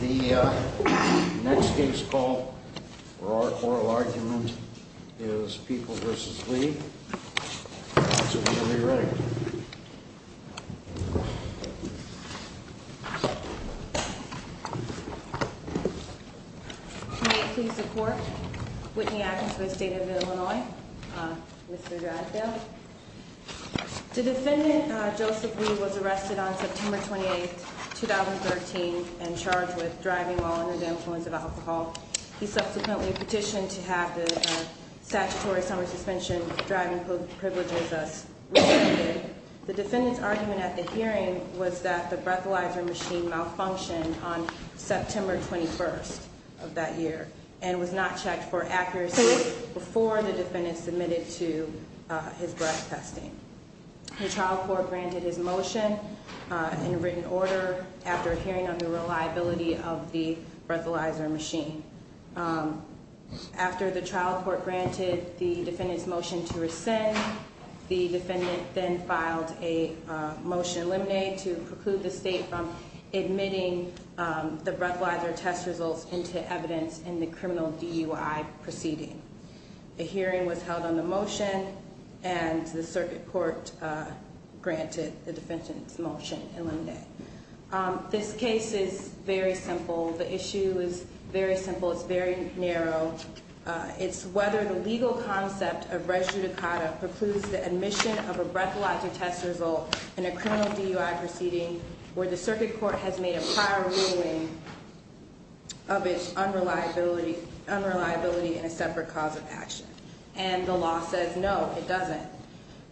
The next case call for oral argument is People v. Lee. So we're going to be ready. May it please the Court, Whitney Atkins of the State of Illinois, Mr. Dradfield. The defendant, Joseph Lee, was arrested on September 28, 2013 and charged with driving while under the influence of alcohol. He subsequently petitioned to have the statutory summer suspension driving privileges restricted. The defendant's argument at the hearing was that the breathalyzer machine malfunctioned on September 21st of that year and was not checked for accuracy before the defendant submitted to his breath testing. The trial court granted his motion in written order after hearing on the reliability of the breathalyzer machine. After the trial court granted the defendant's motion to rescind, the defendant then filed a motion in limine to preclude the state from admitting the breathalyzer test results into evidence in the criminal DUI proceeding. A hearing was held on the motion and the circuit court granted the defendant's motion in limine. This case is very simple. The issue is very simple. It's very narrow. It's whether the legal concept of res judicata precludes the admission of a breathalyzer test result in a criminal DUI proceeding where the circuit court has made a prior ruling of its unreliability in a separate cause of action. And the law says no, it doesn't.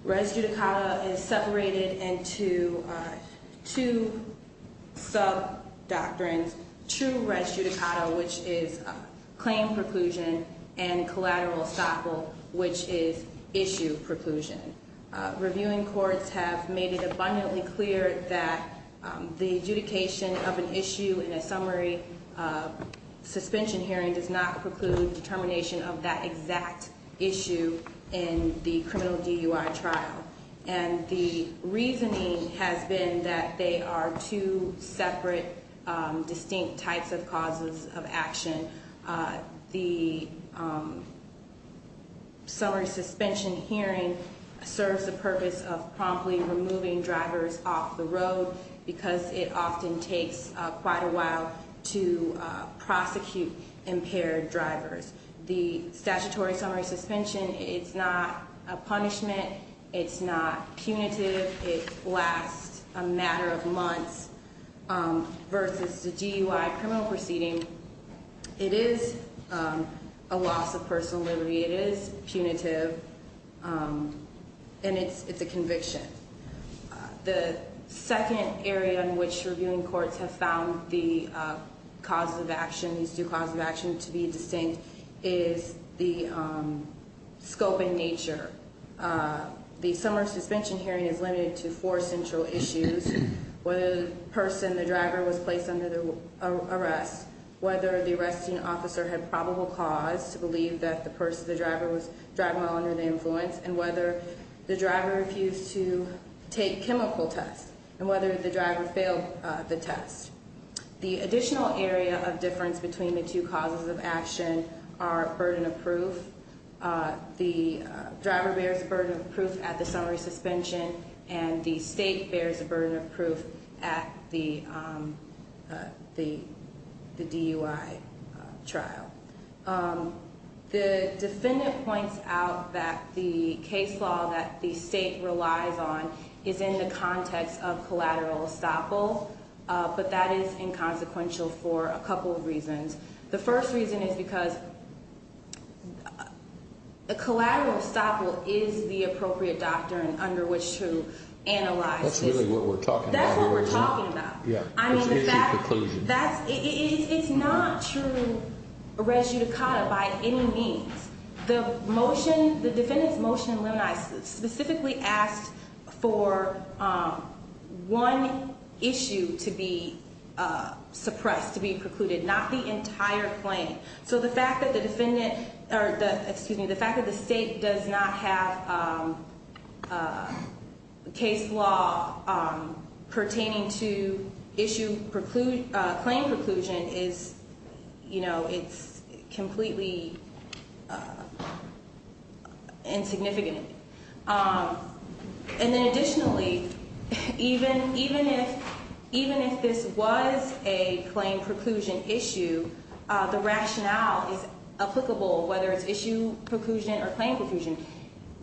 Res judicata is separated into two sub doctrines. True res judicata, which is claim preclusion, and collateral estoppel, which is issue preclusion. Reviewing courts have made it abundantly clear that the adjudication of an issue in a summary suspension hearing does not preclude determination of that exact issue in the criminal DUI trial. And the reasoning has been that they are two separate, distinct types of causes of action. The summary suspension hearing serves the purpose of promptly removing drivers off the road because it often takes quite a while to prosecute impaired drivers. The statutory summary suspension, it's not a punishment. It's not punitive. It lasts a matter of months. Versus the DUI criminal proceeding, it is a loss of personal liberty. It is punitive. And it's a conviction. The second area in which reviewing courts have found the causes of action, these two causes of action to be distinct, is the scope and nature. The summary suspension hearing is limited to four central issues. Whether the person, the driver, was placed under arrest. Whether the arresting officer had probable cause to believe that the person, the driver, was driving while under the influence. And whether the driver refused to take chemical tests. And whether the driver failed the test. The additional area of difference between the two causes of action are burden of proof. The driver bears a burden of proof at the summary suspension. And the state bears a burden of proof at the DUI trial. The defendant points out that the case law that the state relies on is in the context of collateral estoppel. But that is inconsequential for a couple of reasons. The first reason is because a collateral estoppel is the appropriate doctrine under which to analyze. That's really what we're talking about. That's what we're talking about. Yeah. I mean, the fact that it's not true res judicata by any means. The motion, the defendant's motion, specifically asked for one issue to be suppressed, to be precluded. Not the entire claim. So the fact that the defendant, or excuse me, the fact that the state does not have case law pertaining to issue claim preclusion is, you know, it's completely insignificant. And then additionally, even if this was a claim preclusion issue, the rationale is applicable whether it's issue preclusion or claim preclusion.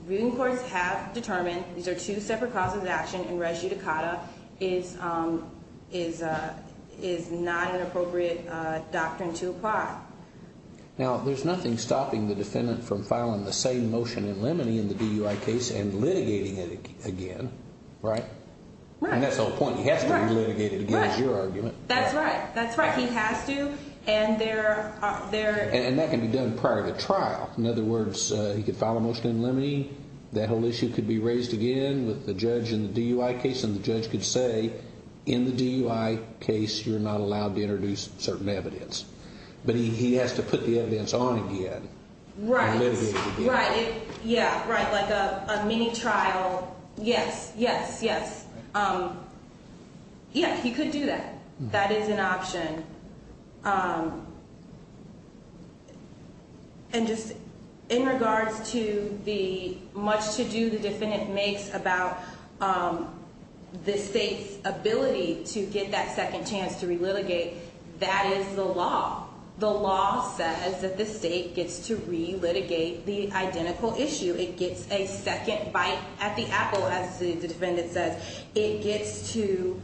Reviewing courts have determined these are two separate causes of action and res judicata is not an appropriate doctrine to apply. Now, there's nothing stopping the defendant from filing the same motion in limine in the DUI case and litigating it again, right? Right. And that's the whole point. He has to be litigated again is your argument. That's right. That's right. He has to. And that can be done prior to trial. In other words, he could file a motion in limine, that whole issue could be raised again with the judge in the DUI case, and the judge could say, in the DUI case, you're not allowed to introduce certain evidence. But he has to put the evidence on again and litigate it again. Right. Yeah. Right. Like a mini trial. Yes. Yes. Yes. Yeah. He could do that. That is an option. And just in regards to the much to do the defendant makes about the state's ability to get that second chance to relitigate, that is the law. The law says that the state gets to relitigate the identical issue. It gets a second bite at the apple, as the defendant says. It gets to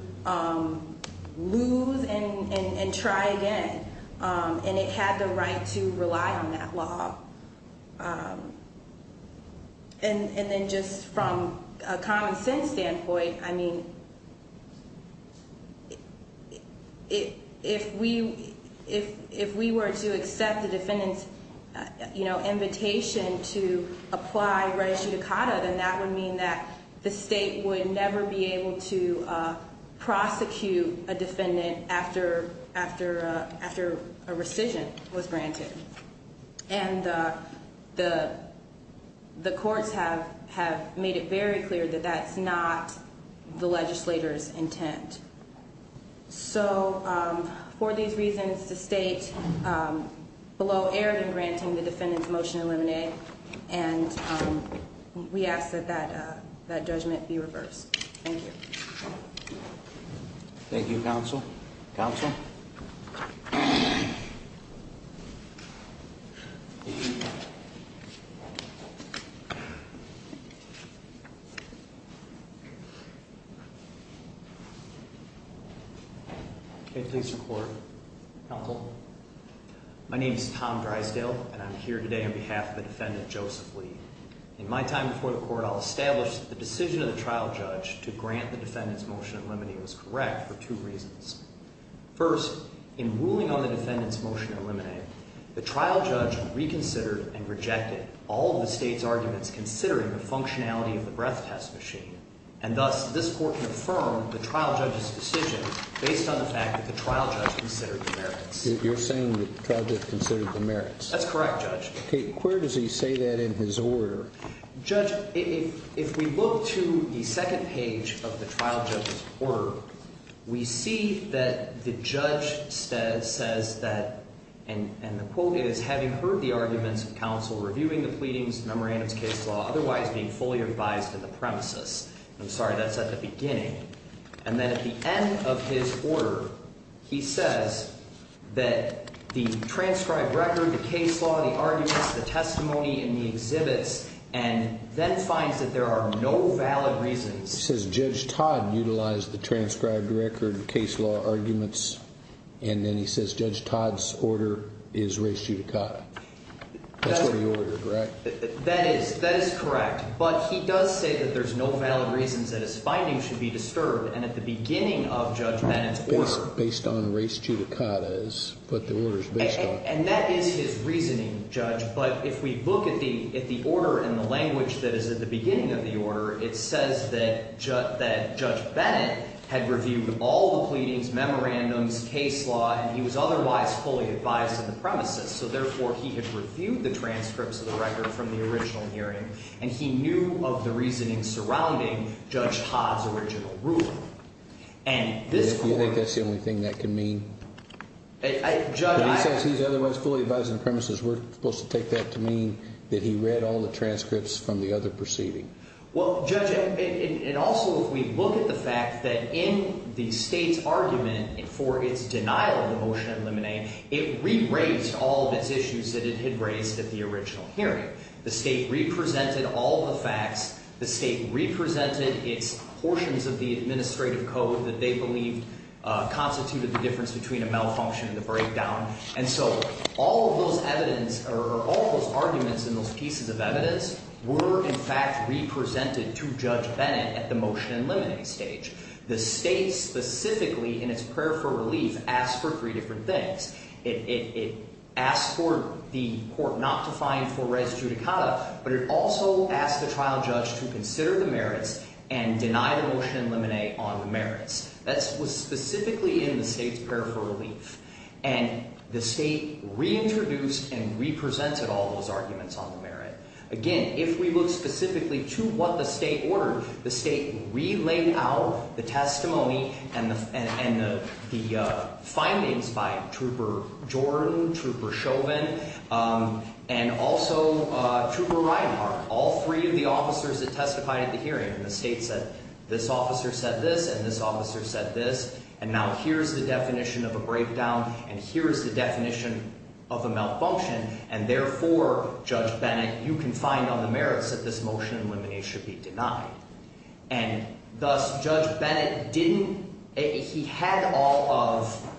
lose and try again. And it had the right to rely on that law. And then just from a common sense standpoint, I mean, if we were to accept the defendant's invitation to apply reicidicata, then that would mean that the state would never be able to prosecute a defendant after a rescission was granted. And the courts have made it very clear that that's not the legislator's intent. So for these reasons, the state below aired in granting the defendant's motion to eliminate. And we ask that that judgment be reversed. Thank you. Thank you, counsel. Counsel. Please support. My name is Tom Drysdale, and I'm here today on behalf of the defendant, Joseph Lee. In my time before the court, I'll establish that the decision of the trial judge to grant the defendant's motion to eliminate was correct for two reasons. First, in ruling on the defendant's motion to eliminate, the trial judge reconsidered and rejected all of the state's arguments considering the functionality of the breath test machine. And thus, this court can affirm the trial judge's decision based on the fact that the trial judge considered the merits. You're saying that the trial judge considered the merits. That's correct, Judge. Okay, where does he say that in his order? Judge, if we look to the second page of the trial judge's order, we see that the judge says that, and the quote is, having heard the arguments of counsel reviewing the pleadings, memorandums, case law, otherwise being fully advised to the premises. I'm sorry, that's at the beginning. And then at the end of his order, he says that the transcribed record, the case law, the arguments, the testimony, and the exhibits, and then finds that there are no valid reasons. He says Judge Todd utilized the transcribed record, case law, arguments, and then he says Judge Todd's order is res judicata. That's what he ordered, correct? That is correct. But he does say that there's no valid reasons that his findings should be disturbed. And at the beginning of Judge Bennett's order. Based on res judicata is what the order is based on. And that is his reasoning, Judge. But if we look at the order in the language that is at the beginning of the order, it says that Judge Bennett had reviewed all the pleadings, memorandums, case law, and he was otherwise fully advised to the premises. So therefore, he had reviewed the transcripts of the record from the original hearing. And he knew of the reasoning surrounding Judge Todd's original ruling. And this court. You think that's the only thing that can mean? Judge, I. But he says he's otherwise fully advised to the premises. We're supposed to take that to mean that he read all the transcripts from the other proceeding. Well, Judge, and also if we look at the fact that in the state's argument for its denial of the motion of limine, it re-raised all of its issues that it had raised at the original hearing. The state re-presented all the facts. The state re-presented its portions of the administrative code that they believed constituted the difference between a malfunction and the breakdown. And so all of those arguments and those pieces of evidence were, in fact, re-presented to Judge Bennett at the motion and limine stage. The state specifically, in its prayer for relief, asked for three different things. It asked for the court not to find for res judicata, but it also asked the trial judge to consider the merits and deny the motion and limine on the merits. That was specifically in the state's prayer for relief. And the state reintroduced and re-presented all those arguments on the merit. Again, if we look specifically to what the state ordered, the state re-laid out the testimony and the findings by Trooper Jordan, Trooper Chauvin, and also Trooper Reinhart, all three of the officers that testified at the hearing. And the state said, this officer said this, and this officer said this, and now here's the definition of a breakdown, and here's the definition of a malfunction. And therefore, Judge Bennett, you can find on the merits that this motion and limine should be denied. And thus, Judge Bennett didn't—he had all of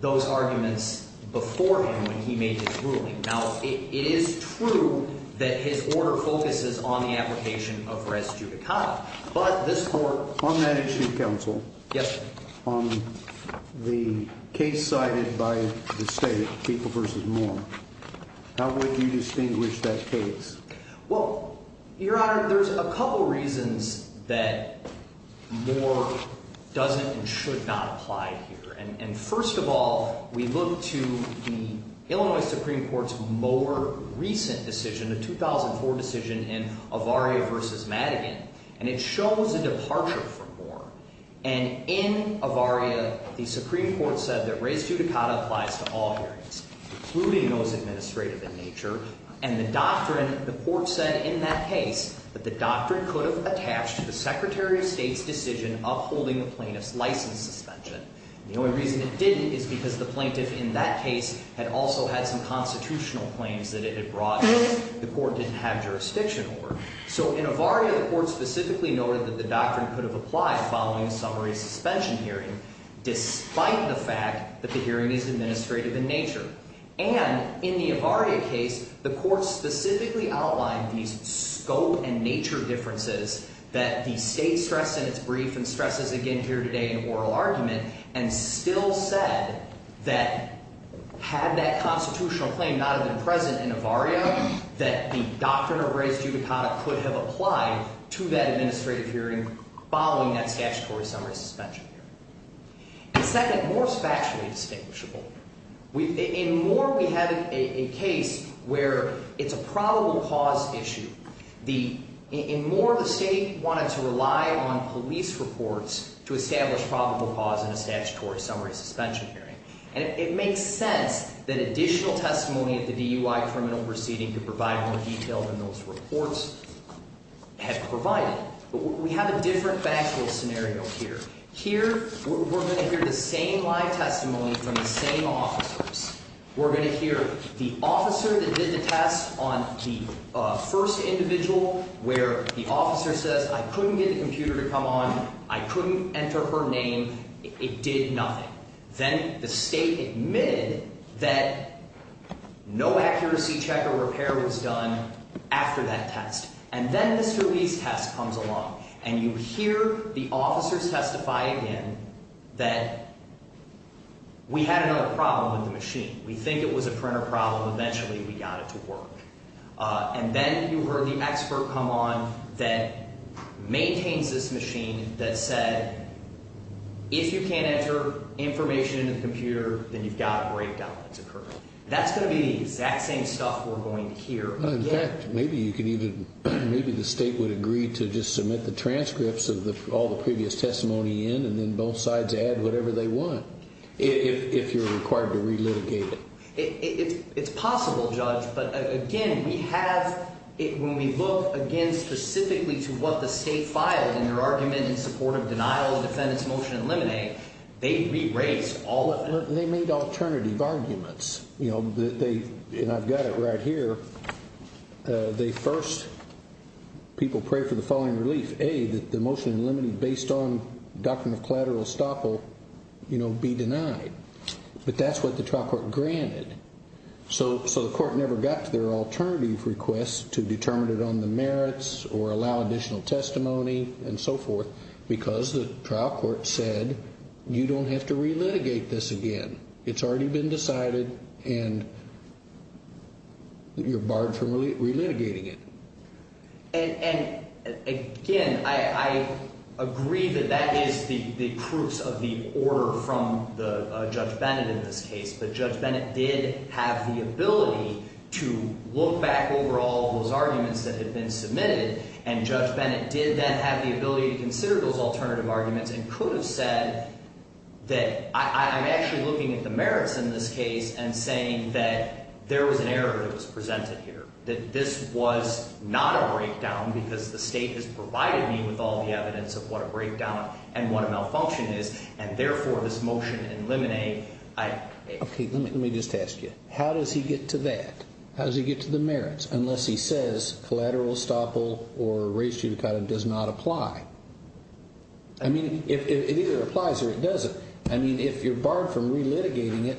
those arguments before him when he made his ruling. Now, it is true that his order focuses on the application of res judicata, but this court— On that issue, counsel— Yes, sir. On the case cited by the state, People v. Moore, how would you distinguish that case? Well, Your Honor, there's a couple reasons that Moore doesn't and should not apply here. And first of all, we look to the Illinois Supreme Court's more recent decision, the 2004 decision in Avaria v. Madigan, and it shows a departure from Moore. And in Avaria, the Supreme Court said that res judicata applies to all hearings, including those administrative in nature. And the doctrine—the court said in that case that the doctrine could have attached to the Secretary of State's decision of holding the plaintiff's license suspension. And the only reason it didn't is because the plaintiff in that case had also had some constitutional claims that it had brought that the court didn't have jurisdiction over. So in Avaria, the court specifically noted that the doctrine could have applied following a summary suspension hearing, despite the fact that the hearing is administrative in nature. And in the Avaria case, the court specifically outlined these scope and nature differences that the state stressed in its brief and stresses again here today in oral argument, and still said that had that constitutional claim not have been present in Avaria, that the doctrine of res judicata could have applied to that administrative hearing following that statutory summary suspension hearing. And second, Moore is factually distinguishable. In Moore, we have a case where it's a probable cause issue. In Moore, the state wanted to rely on police reports to establish probable cause in a statutory summary suspension hearing. And it makes sense that additional testimony at the DUI criminal proceeding could provide more detail than those reports have provided. But we have a different factual scenario here. Here, we're going to hear the same live testimony from the same officers. We're going to hear the officer that did the test on the first individual where the officer says, I couldn't get the computer to come on. I couldn't enter her name. It did nothing. Then the state admitted that no accuracy check or repair was done after that test. And then this release test comes along. And you hear the officers testify again that we had another problem with the machine. We think it was a printer problem. Eventually, we got it to work. And then you heard the expert come on that maintains this machine that said, if you can't enter information into the computer, then you've got a breakdown that's occurred. That's going to be the exact same stuff we're going to hear again. Maybe the state would agree to just submit the transcripts of all the previous testimony in and then both sides add whatever they want if you're required to re-litigate it. It's possible, Judge. But, again, when we look, again, specifically to what the state filed in their argument in support of denial of defendant's motion in limine, they re-raised all of it. They made alternative arguments. And I've got it right here. First, people prayed for the following relief. A, that the motion in limine based on doctrine of collateral estoppel be denied. But that's what the trial court granted. So the court never got to their alternative request to determine it on the merits or allow additional testimony and so forth because the trial court said, you don't have to re-litigate this again. It's already been decided and you're barred from re-litigating it. And, again, I agree that that is the proofs of the order from Judge Bennett in this case. But Judge Bennett did have the ability to look back over all those arguments that had been submitted. And Judge Bennett did then have the ability to consider those alternative arguments and could have said that I'm actually looking at the merits in this case and saying that there was an error that was presented here. That this was not a breakdown because the state has provided me with all the evidence of what a breakdown and what a malfunction is. And, therefore, this motion in limine, I... Okay, let me just ask you. How does he get to that? How does he get to the merits unless he says collateral estoppel or res judicata does not apply? I mean, it either applies or it doesn't. I mean, if you're barred from re-litigating it,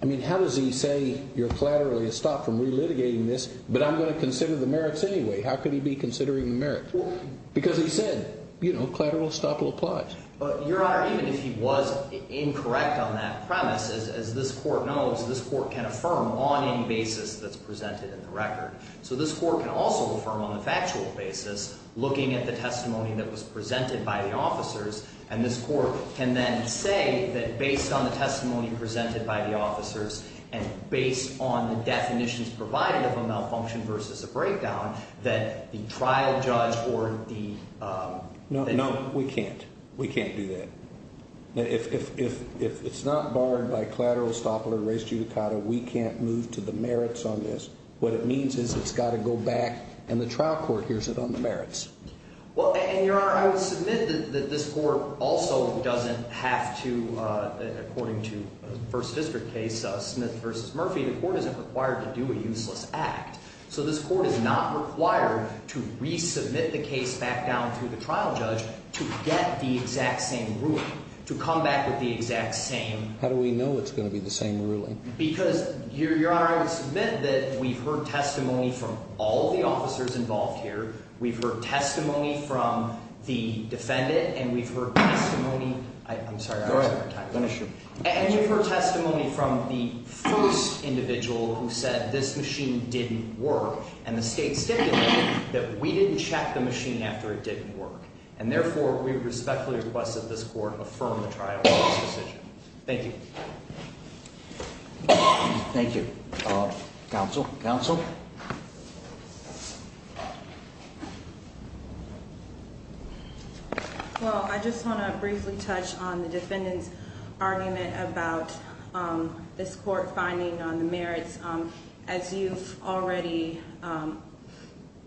I mean, how does he say you're collaterally estopped from re-litigating this but I'm going to consider the merits anyway? How could he be considering the merits? Because he said, you know, collateral estoppel applies. Your Honor, even if he was incorrect on that premise, as this court knows, this court can affirm on any basis that's presented in the record. So this court can also affirm on a factual basis looking at the testimony that was presented by the officers. And this court can then say that based on the testimony presented by the officers and based on the definitions provided of a malfunction versus a breakdown that the trial judge or the... No, no, we can't. We can't do that. If it's not barred by collateral estoppel or res judicata, we can't move to the merits on this. What it means is it's got to go back and the trial court hears it on the merits. Well, and, Your Honor, I would submit that this court also doesn't have to, according to the First District case, Smith v. Murphy, the court isn't required to do a useless act. So this court is not required to resubmit the case back down to the trial judge to get the exact same ruling, to come back with the exact same... How do we know it's going to be the same ruling? Because, Your Honor, I would submit that we've heard testimony from all the officers involved here. We've heard testimony from the defendant. And we've heard testimony... I'm sorry. Go ahead. And we've heard testimony from the first individual who said this machine didn't work. And the state stipulated that we didn't check the machine after it didn't work. And, therefore, we respectfully request that this court affirm the trial court's decision. Thank you. Thank you. Counsel? Counsel? Well, I just want to briefly touch on the defendant's argument about this court finding on the merits. As you've already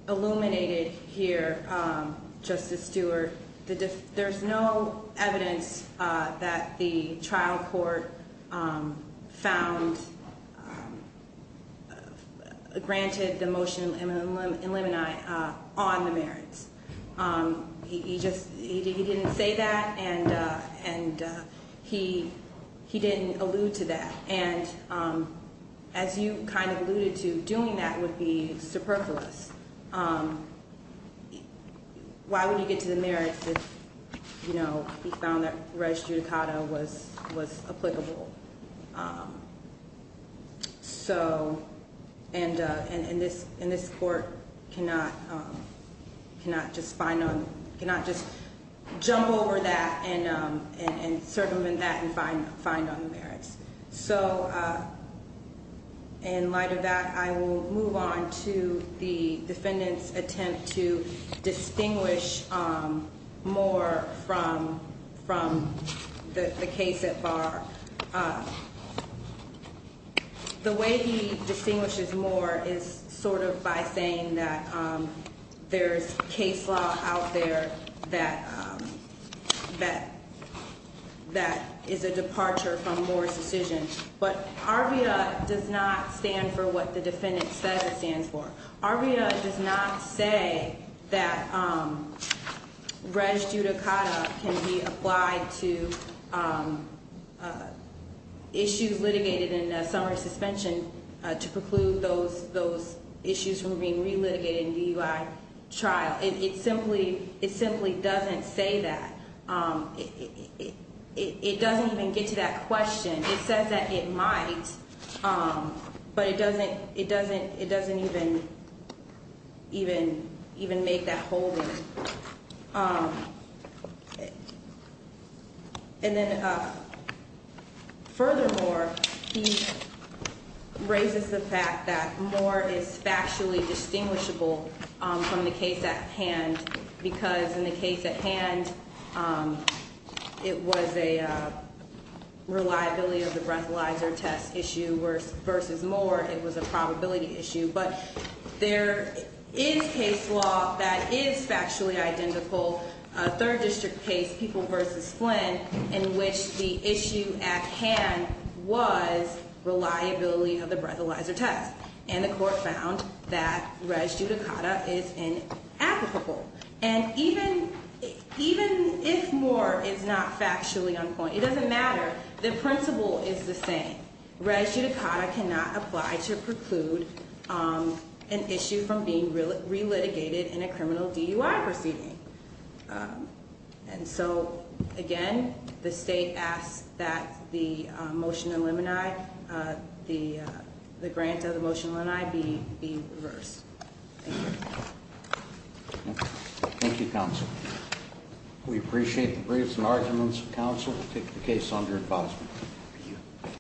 illuminated here, Justice Stewart, there's no evidence that the trial court found, granted the motion in limini on the merits. He didn't say that, and he didn't allude to that. And as you kind of alluded to, doing that would be superfluous. Why would he get to the merits if he found that res judicata was applicable? And this court cannot just jump over that and circumvent that and find on the merits. So in light of that, I will move on to the defendant's attempt to distinguish more from the case at bar. Well, the way he distinguishes more is sort of by saying that there's case law out there that is a departure from Moore's decision. But ARVIA does not stand for what the defendant says it stands for. ARVIA does not say that res judicata can be applied to issues litigated in summary suspension to preclude those issues from being relitigated in DUI trial. It simply doesn't say that. It doesn't even get to that question. It says that it might, but it doesn't even make that whole thing. And then furthermore, he raises the fact that Moore is factually distinguishable from the case at hand because in the case at hand, it was a reliability of the breathalyzer test issue versus Moore. It was a probability issue. But there is case law that is factually identical. A third district case, People v. Flynn, in which the issue at hand was reliability of the breathalyzer test. And the court found that res judicata is inapplicable. And even if Moore is not factually on point, it doesn't matter. The principle is the same. Res judicata cannot apply to preclude an issue from being relitigated in a criminal DUI proceeding. And so, again, the state asks that the motion of limini, the grant of the motion of limini, be reversed. Thank you. Thank you, counsel. We appreciate the briefs and arguments of counsel to take the case under advisement.